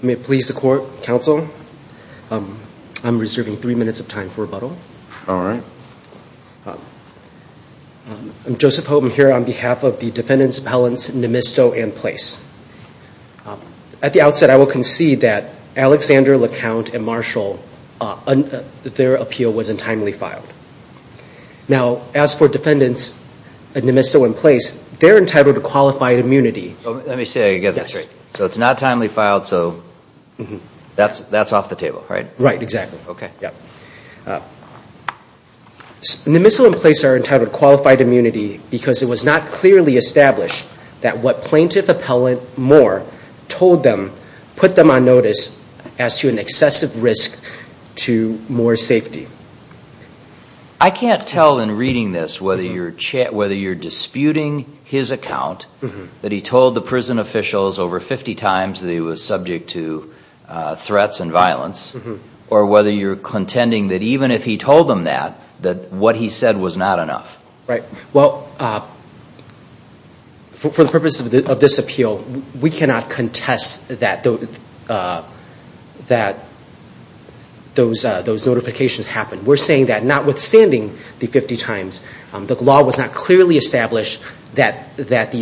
May it please the court, counsel, I'm reserving three minutes of time for rebuttal. All right. I'm Joseph Houghton here on behalf of the defendants' appellants, Nemisto and Place. At the outset, I will concede that Alexander, LeCount, and Marshall, their appeal was untimely filed. Now, as for defendants, Nemisto and Place, they're entitled to qualified immunity. Let me see if I can get this right. So it's not timely filed, so that's off the table, right? Right, exactly. Nemisto and Place are entitled to qualified immunity because it was not clearly established that what plaintiff appellant Moore told them put them on notice as to an excessive risk to Moore's safety. I can't tell in reading this whether you're disputing his account, that he told the prison officials over 50 times that he was subject to threats and violence, or whether you're contending that even if he told them that, that what he said was not enough. Right. Well, for the purpose of this appeal, we cannot contest that those notifications happened. We're saying that notwithstanding the 50 times, the law was not clearly established as to what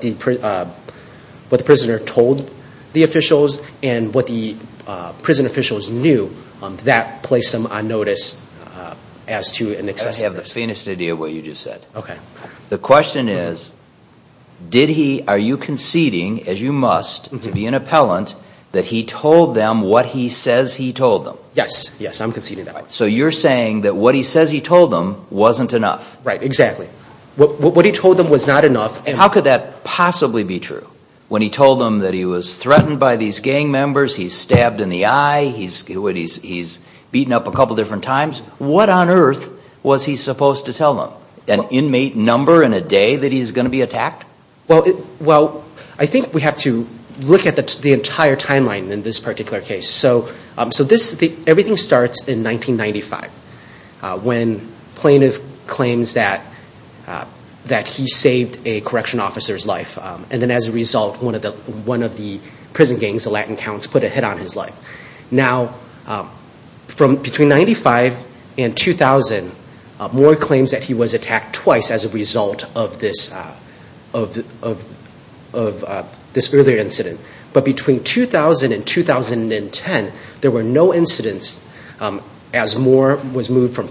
the prisoner told the officials and what the prison officials knew that placed them on notice as to an excessive risk. I have the faintest idea of what you just said. Okay. The question is, did he, are you conceding, as you must to be an appellant, that he told them what he says he told them? Yes, yes, I'm conceding that. So you're saying that what he says he told them wasn't enough. Right, exactly. What he told them was not enough. How could that possibly be true? When he told them that he was threatened by these gang members, he's stabbed in the eye, he's beaten up a couple different times, what on earth was he supposed to tell them? An inmate number and a day that he's going to be attacked? Well, I think we have to look at the entire timeline in this particular case. Everything starts in 1995 when plaintiff claims that he saved a correction officer's life and then as a result one of the prison gangs, the Latin Counts, put a hit on his life. Now, between 1995 and 2000, Moore claims that he was attacked twice as a result of this earlier incident. But between 2000 and 2010, there were no incidents as Moore was moved from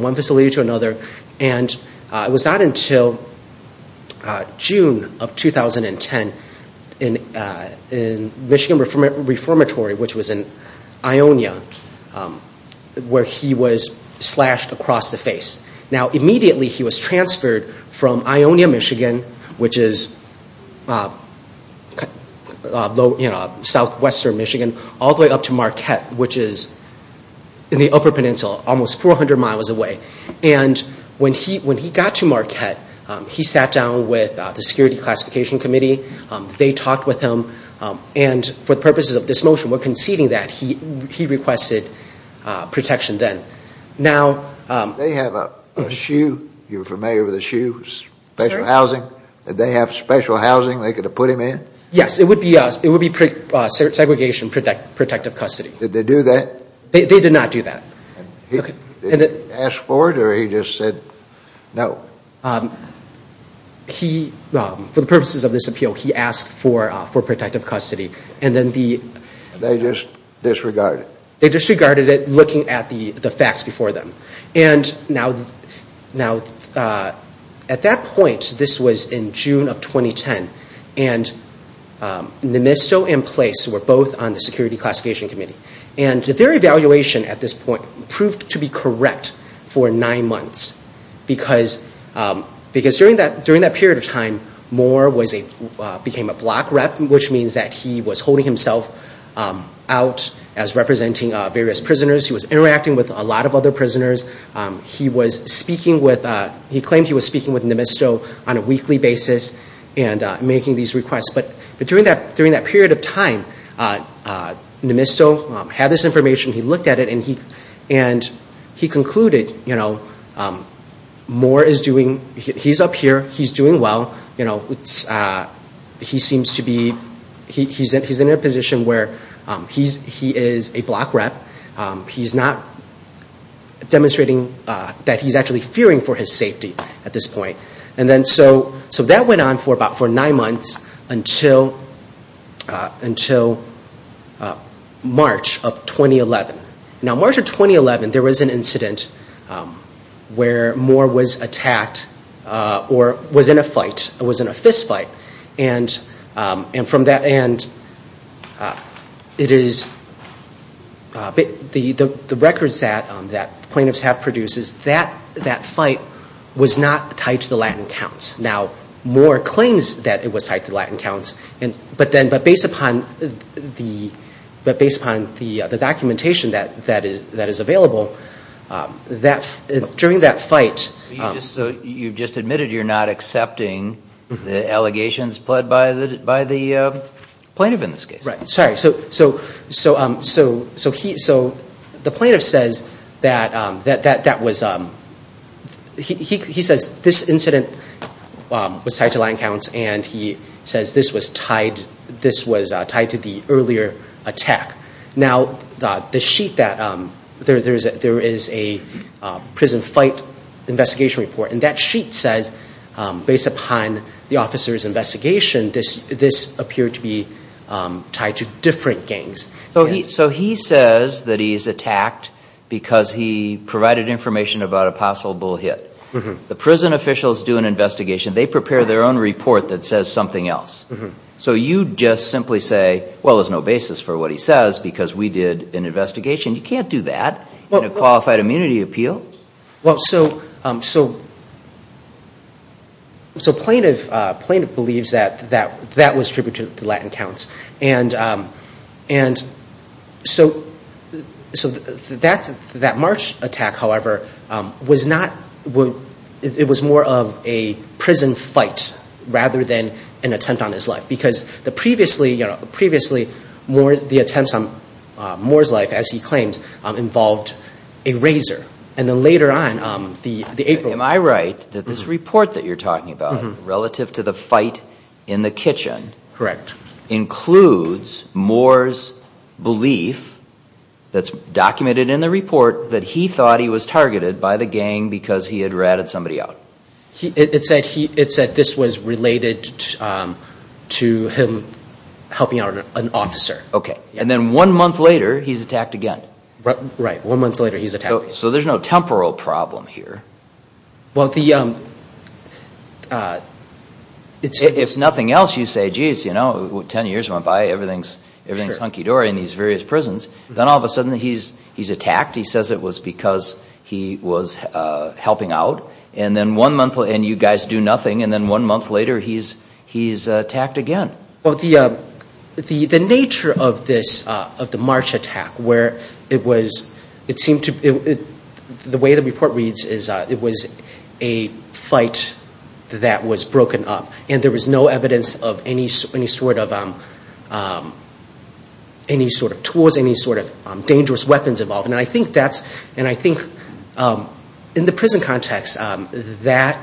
one facility to another. And it was not until June of 2010 in Michigan Reformatory, which was in Ionia, where he was slashed across the face. Now, immediately he was transferred from Ionia, Michigan, which is southwestern Michigan, all the way up to Marquette, which is in the Upper Peninsula, almost 400 miles away. And when he got to Marquette, he sat down with the Security Classification Committee. They talked with him. And for the purposes of this motion, we're conceding that he requested protection then. Did they have a SHU, you're familiar with the SHU, special housing? Did they have special housing they could have put him in? Yes, it would be segregation protective custody. Did they do that? They did not do that. Did they ask for it or he just said no? He, for the purposes of this appeal, he asked for protective custody. They just disregarded it? They disregarded it looking at the facts before them. And now at that point, this was in June of 2010, and Nemisto and Place were both on the Security Classification Committee. And their evaluation at this point proved to be correct for nine months because during that period of time, Moore became a block rep, which means that he was holding himself out as representing various prisoners. He was interacting with a lot of other prisoners. He was speaking with, he claimed he was speaking with Nemisto on a weekly basis and making these requests. But during that period of time, Nemisto had this information. He looked at it and he concluded, you know, Moore is doing, he's up here. He's doing well. You know, he seems to be, he's in a position where he is a block rep. He's not demonstrating that he's actually fearing for his safety at this point. And then so that went on for about nine months until March of 2011. Now, March of 2011, there was an incident where Moore was attacked or was in a fight, was in a fist fight. And from that end, it is, the records that plaintiffs have produced, that fight was not tied to the Latin counts. Now, Moore claims that it was tied to Latin counts, but based upon the documentation that is available, during that fight. So you've just admitted you're not accepting the allegations pled by the plaintiff in this case? Right. Sorry. So the plaintiff says that that was, he says this incident was tied to Latin counts and he says this was tied to the earlier attack. Now, the sheet that, there is a prison fight investigation report and that sheet says, based upon the officer's investigation, this appeared to be tied to different gangs. So he says that he's attacked because he provided information about a possible hit. The prison officials do an investigation. They prepare their own report that says something else. So you just simply say, well, there's no basis for what he says because we did an investigation. You can't do that in a qualified immunity appeal. Well, so plaintiff believes that that was attributed to Latin counts. And so that March attack, however, was not, it was more of a prison fight rather than an attempt on his life because the previously, you know, previously the attempts on Moore's life, as he claims, involved a razor. And then later on, the April- Am I right that this report that you're talking about relative to the fight in the kitchen- Correct. Includes Moore's belief that's documented in the report that he thought he was targeted by the gang because he had ratted somebody out. It said this was related to him helping out an officer. Okay. And then one month later, he's attacked again. Right. One month later, he's attacked again. So there's no temporal problem here. Well, the- If nothing else, you say, geez, you know, 10 years went by, everything's hunky-dory in these various prisons. Then all of a sudden, he's attacked. He says it was because he was helping out. And then one month later, and you guys do nothing. And then one month later, he's attacked again. Well, the nature of this, of the March attack, where it was, it seemed to, the way the report reads is it was a fight that was broken up. And there was no evidence of any sort of tools, any sort of dangerous weapons involved. And I think that's, and I think in the prison context, that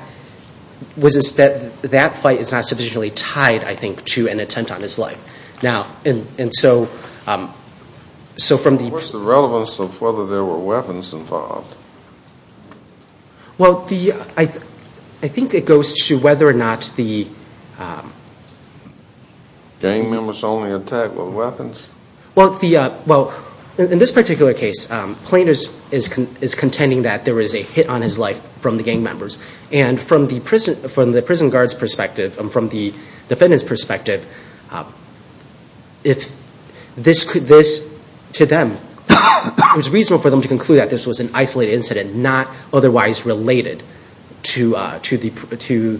fight is not sufficiently tied, I think, to an attempt on his life. Now, and so from the- What's the relevance of whether there were weapons involved? Well, the, I think it goes to whether or not the- Gang members only attacked with weapons? Well, the, well, in this particular case, Plain is contending that there was a hit on his life from the gang members. And from the prison, from the prison guard's perspective, and from the defendant's perspective, if this, to them, it was reasonable for them to conclude that this was an isolated incident, not otherwise related to the,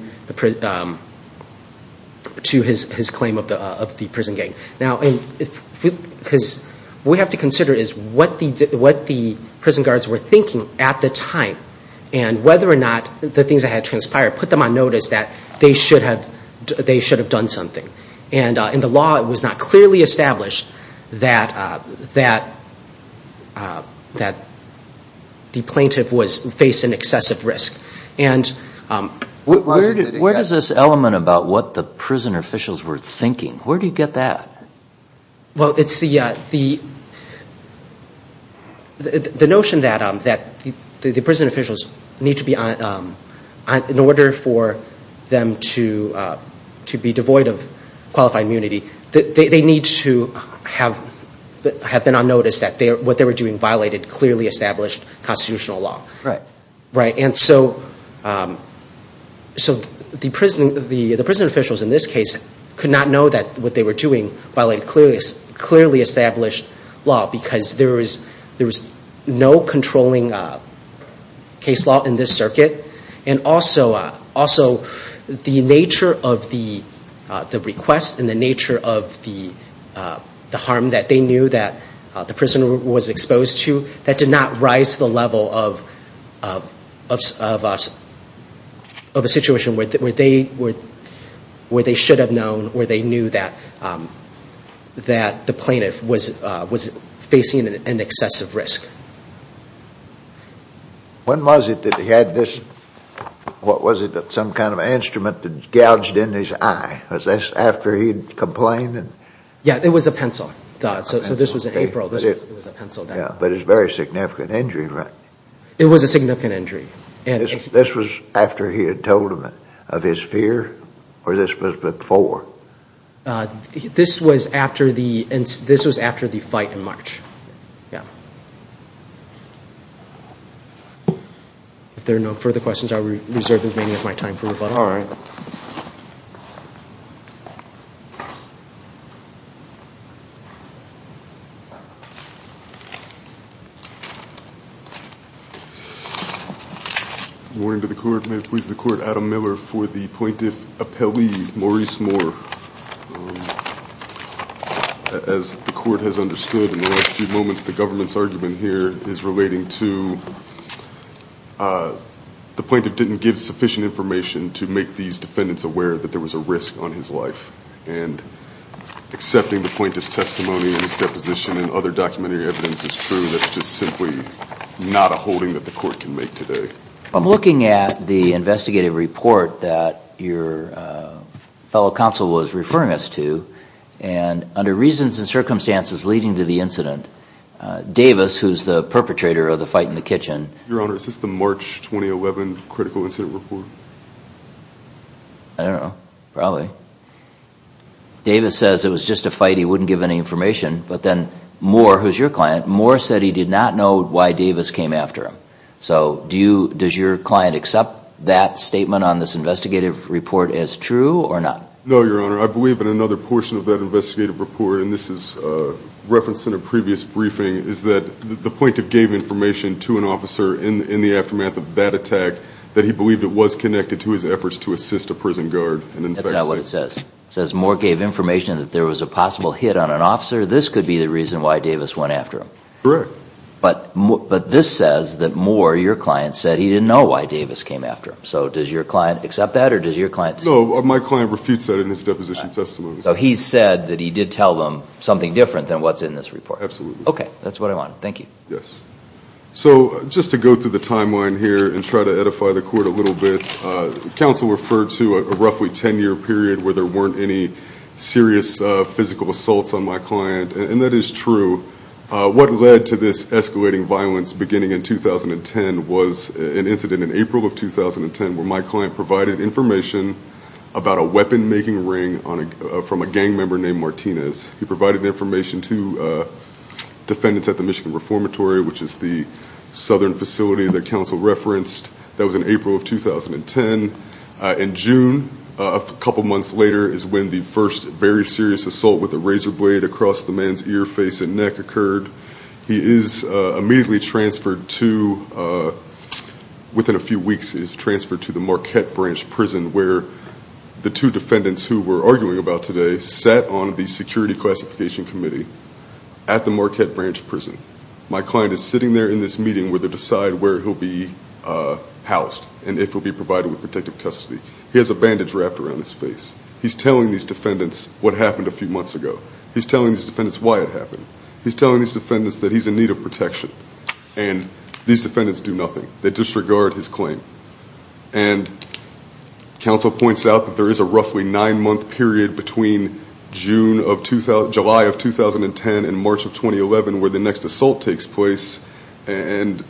to his claim of the prison gang. Now, because what we have to consider is what the prison guards were thinking at the time, and whether or not the things that had transpired put them on notice that they should have done something. And in the law, it was not clearly established that the plaintiff was facing excessive risk. And- Where does this element about what the prison officials were thinking, where do you get that? Well, it's the notion that the prison officials need to be, in order for them to be devoid of qualified immunity, they need to have been on notice that what they were doing violated clearly established constitutional law. Right. Right. And so the prison officials in this case could not know that what they were doing violated clearly established law because there was no controlling case law in this circuit. And also, the nature of the request and the nature of the harm that they knew that the prisoner was exposed to, that did not rise to the level of a situation where they should have known, or they knew that the plaintiff was facing an excessive risk. When was it that he had this, what was it, some kind of instrument that gouged in his eye? Was this after he had complained? Yeah, it was a pencil. So this was in April. But it's a very significant injury, right? It was a significant injury. This was after he had told them of his fear, or this was before? This was after the fight in March. Yeah. If there are no further questions, I will reserve the remaining of my time for rebuttal. All right. Good morning to the Court. May it please the Court, Adam Miller for the plaintiff appellee, Maurice Moore. As the Court has understood in the last few moments, the government's argument here is relating to the plaintiff didn't give sufficient information to make these defendants aware that there was a risk on his life. And accepting the plaintiff's testimony and his deposition and other documentary evidence is true. The plaintiff is simply not a holding that the Court can make today. I'm looking at the investigative report that your fellow counsel was referring us to. And under reasons and circumstances leading to the incident, Davis, who's the perpetrator of the fight in the kitchen... Your Honor, is this the March 2011 critical incident report? I don't know. Probably. Davis says it was just a fight, he wouldn't give any information. But then Moore, who's your client, Moore said he did not know why Davis came after him. So does your client accept that statement on this investigative report as true or not? No, Your Honor. I believe in another portion of that investigative report, and this is referenced in a previous briefing, is that the plaintiff gave information to an officer in the aftermath of that attack that he believed it was connected to his efforts to assist a prison guard. That's not what it says. It says Moore gave information that there was a possible hit on an officer. This could be the reason why Davis went after him. Correct. But this says that Moore, your client, said he didn't know why Davis came after him. So does your client accept that or does your client... No, my client refutes that in his deposition testimony. So he said that he did tell them something different than what's in this report. Absolutely. Okay. That's what I want. Thank you. Yes. So just to go through the timeline here and try to edify the Court a little bit, counsel referred to a roughly 10-year period where there weren't any serious physical assaults on my client, and that is true. What led to this escalating violence beginning in 2010 was an incident in April of 2010 where my client provided information about a weapon-making ring from a gang member named Martinez. He provided information to defendants at the Michigan Reformatory, which is the southern facility that counsel referenced. That was in April of 2010. In June, a couple months later, is when the first very serious assault with a razor blade across the man's ear, face, and neck occurred. He is immediately transferred to, within a few weeks, is transferred to the Marquette Branch Prison where the two defendants who we're arguing about today sat on the Security Classification Committee at the Marquette Branch Prison. My client is sitting there in this meeting where they decide where he'll be housed and if he'll be provided with protective custody. He has a bandage wrapped around his face. He's telling these defendants what happened a few months ago. He's telling these defendants why it happened. He's telling these defendants that he's in need of protection. And these defendants do nothing. They disregard his claim. And counsel points out that there is a roughly nine-month period between July of 2010 and March of 2011 where the next assault takes place. And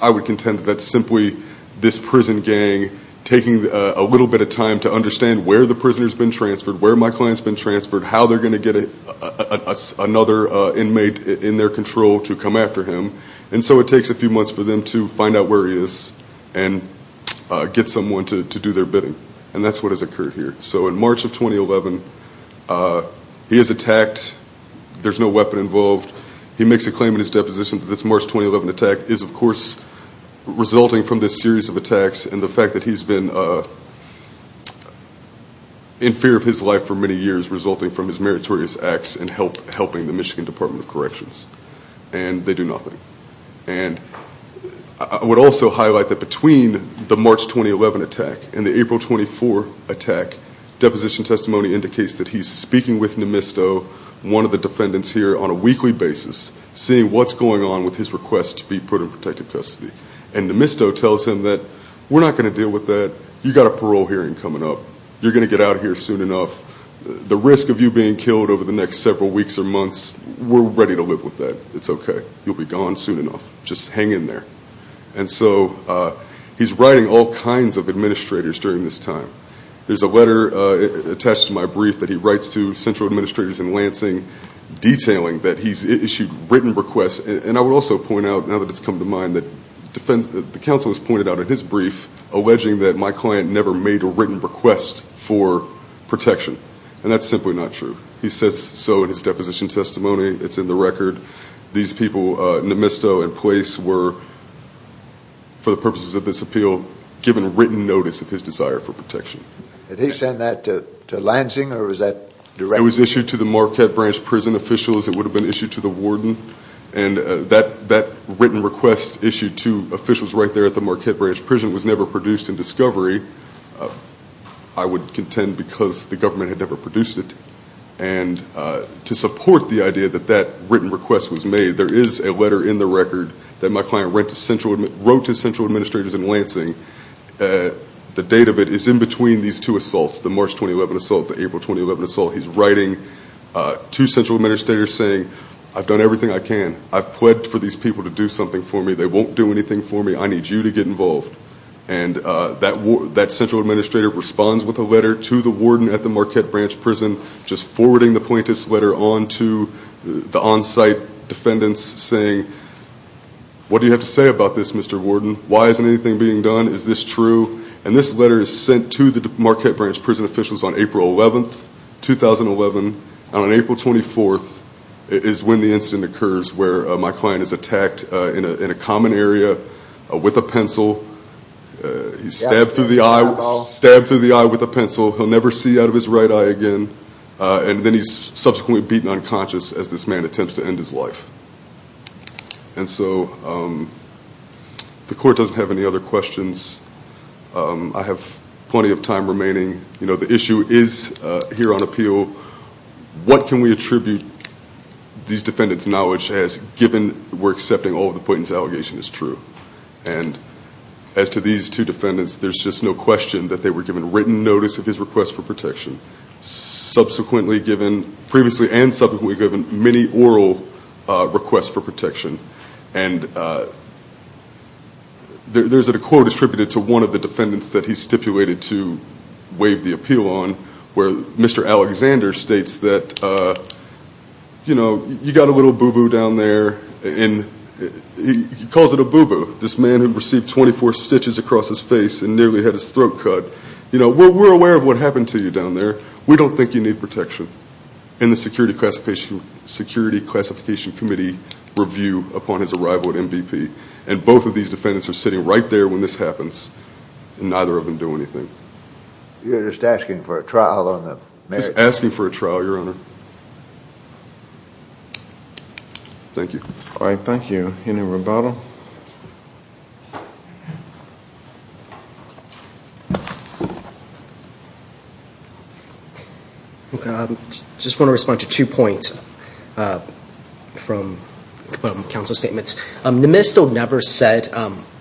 I would contend that's simply this prison gang taking a little bit of time to understand where the prisoner's been transferred, where my client's been transferred, how they're going to get another inmate in their control to come after him. And so it takes a few months for them to find out where he is and get someone to do their bidding. And that's what has occurred here. So in March of 2011, he is attacked. There's no weapon involved. He makes a claim in his deposition that this March 2011 attack is, of course, resulting from this series of attacks and the fact that he's been in fear of his life for many years resulting from his meritorious acts in helping the Michigan Department of Corrections. And they do nothing. And I would also highlight that between the March 2011 attack and the April 2014 attack, deposition testimony indicates that he's speaking with Nemisto, one of the defendants here, on a weekly basis seeing what's going on with his request to be put in protective custody. And Nemisto tells him that we're not going to deal with that. You've got a parole hearing coming up. You're going to get out of here soon enough. The risk of you being killed over the next several weeks or months, we're ready to live with that. It's okay. You'll be gone soon enough. Just hang in there. And so he's writing all kinds of administrators during this time. There's a letter attached to my brief that he writes to central administrators in Lansing detailing that he's issued written requests. And I would also point out, now that it's come to mind, that the counsel has pointed out in his brief alleging that my client never made a written request for protection. And that's simply not true. He says so in his deposition testimony. It's in the record. These people, Nemisto and police, were, for the purposes of this appeal, given written notice of his desire for protection. Did he send that to Lansing or was that directly? It was issued to the Marquette Branch Prison officials. It would have been issued to the warden. And that written request issued to officials right there at the Marquette Branch Prison was never produced in discovery, I would contend, because the government had never produced it. And to support the idea that that written request was made, there is a letter in the record that my client wrote to central administrators in Lansing. The date of it is in between these two assaults, the March 2011 assault, the April 2011 assault. He's writing to central administrators saying, I've done everything I can. I've pled for these people to do something for me. They won't do anything for me. I need you to get involved. And that central administrator responds with a letter to the warden at the Marquette Branch Prison, just forwarding the plaintiff's letter on to the on-site defendants saying, what do you have to say about this, Mr. Warden? Why isn't anything being done? Is this true? And this letter is sent to the Marquette Branch Prison officials on April 11, 2011. And on April 24th is when the incident occurs where my client is attacked in a common area with a pencil. He's stabbed through the eye with a pencil. He'll never see out of his right eye again. And then he's subsequently beaten unconscious as this man attempts to end his life. And so the court doesn't have any other questions. I have plenty of time remaining. The issue is here on appeal. What can we attribute these defendants' knowledge as given we're accepting all of the plaintiff's allegations as true? And as to these two defendants, there's just no question that they were given written notice of his request for protection, previously and subsequently given many oral requests for protection. And there's a quote attributed to one of the defendants that he stipulated to waive the appeal on, where Mr. Alexander states that, you know, you got a little boo-boo down there. And he calls it a boo-boo, this man who received 24 stitches across his face and nearly had his throat cut. You know, we're aware of what happened to you down there. We don't think you need protection in the Security Classification Committee review upon his arrival at MVP. And both of these defendants are sitting right there when this happens, and neither of them do anything. You're just asking for a trial on the merits? Just asking for a trial, Your Honor. Thank you. All right, thank you. Any rebuttal? I just want to respond to two points from counsel's statements. Nemesto never said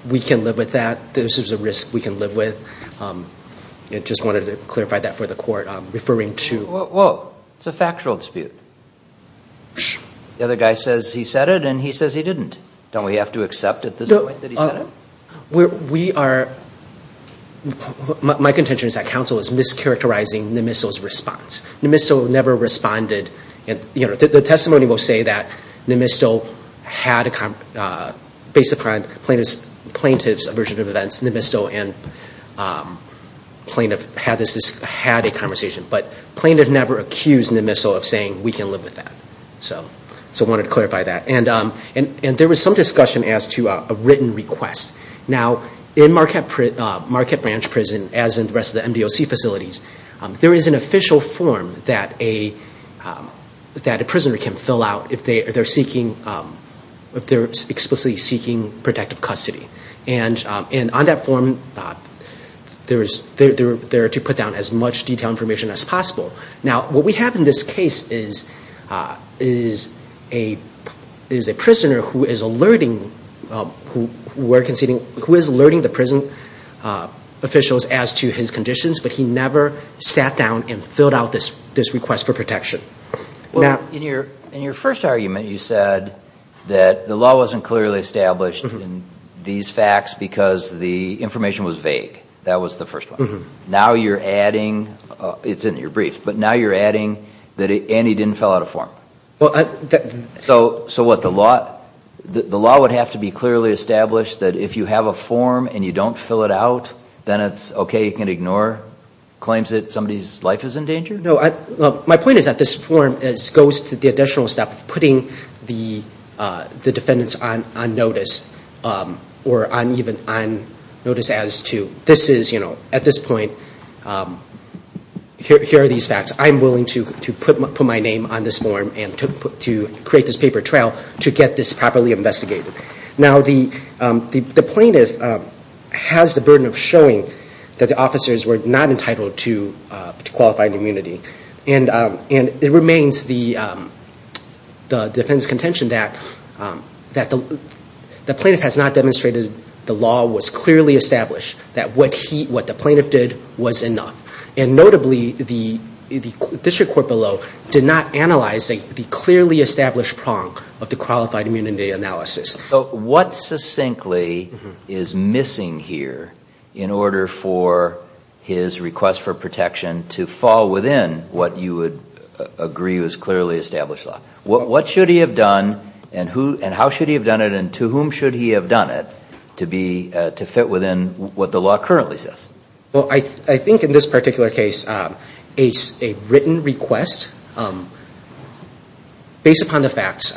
we can live with that, that this is a risk we can live with. I just wanted to clarify that for the Court. Referring to – Well, it's a factual dispute. The other guy says he said it, and he says he didn't. Don't we have to accept at this point that he said it? We are – my contention is that counsel is mischaracterizing Nemesto's response. Nemesto never responded. The testimony will say that Nemesto had a – based upon plaintiff's version of events, Nemesto and plaintiff had a conversation. But plaintiff never accused Nemesto of saying we can live with that. So I wanted to clarify that. And there was some discussion as to a written request. Now, in Marquette Branch Prison, as in the rest of the MDOC facilities, there is an official form that a prisoner can fill out if they're seeking – if they're explicitly seeking protective custody. And on that form, they're to put down as much detailed information as possible. Now, what we have in this case is a prisoner who is alerting – who is alerting the prison officials as to his conditions, but he never sat down and filled out this request for protection. Well, in your first argument, you said that the law wasn't clearly established in these facts because the information was vague. That was the first one. Now you're adding – it's in your brief. But now you're adding that – and he didn't fill out a form. So what, the law – the law would have to be clearly established that if you have a form and you don't fill it out, then it's okay, you can ignore claims that somebody's life is in danger? No. My point is that this form goes to the additional step of putting the defendants on notice or even on notice as to – this is, you know, at this point, here are these facts. I'm willing to put my name on this form and to create this paper trail to get this properly investigated. Now, the plaintiff has the burden of showing that the officers were not entitled to qualified immunity. And it remains the defendants' contention that the plaintiff has not demonstrated the law was clearly established, that what he – what the plaintiff did was enough. And notably, the district court below did not analyze the clearly established prong of the qualified immunity analysis. So what succinctly is missing here in order for his request for protection to fall within what you would agree was clearly established law? What should he have done and how should he have done it and to whom should he have done it to fit within what the law currently says? Well, I think in this particular case, a written request based upon the facts,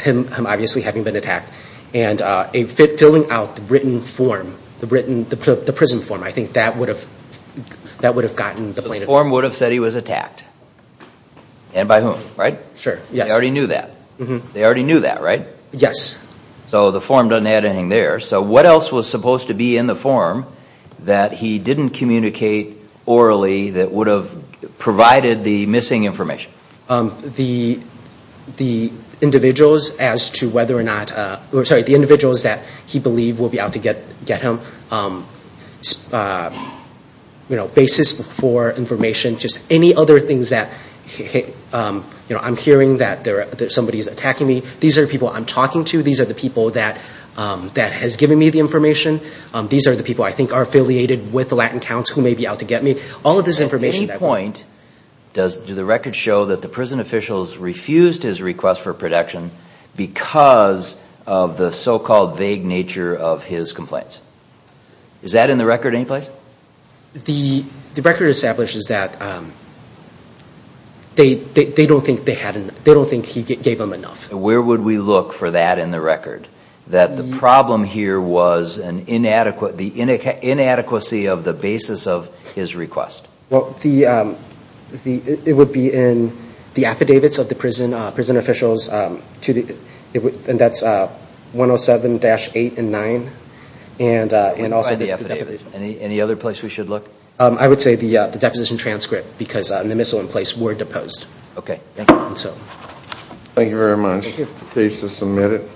him obviously having been attacked, and filling out the written form, the prison form, I think that would have gotten the plaintiff. The form would have said he was attacked. And by whom, right? Sure, yes. They already knew that. They already knew that, right? Yes. So the form doesn't add anything there. So what else was supposed to be in the form that he didn't communicate orally that would have provided the missing information? The individuals as to whether or not – sorry, the individuals that he believed would be out to get him. You know, basis for information, just any other things that, you know, I'm hearing that somebody is attacking me. These are people I'm talking to. These are the people that has given me the information. These are the people I think are affiliated with the Latin Counts who may be out to get me. All of this information. At any point, do the records show that the prison officials refused his request for protection because of the so-called vague nature of his complaints? Is that in the record in any place? The record establishes that they don't think he gave them enough. Where would we look for that in the record? That the problem here was the inadequacy of the basis of his request. Well, it would be in the affidavits of the prison officials, and that's 107-8 and 9. And also the affidavits. Any other place we should look? I would say the deposition transcript because the missile in place were deposed. Okay, thank you. Thank you very much. Thank you. Please submit it.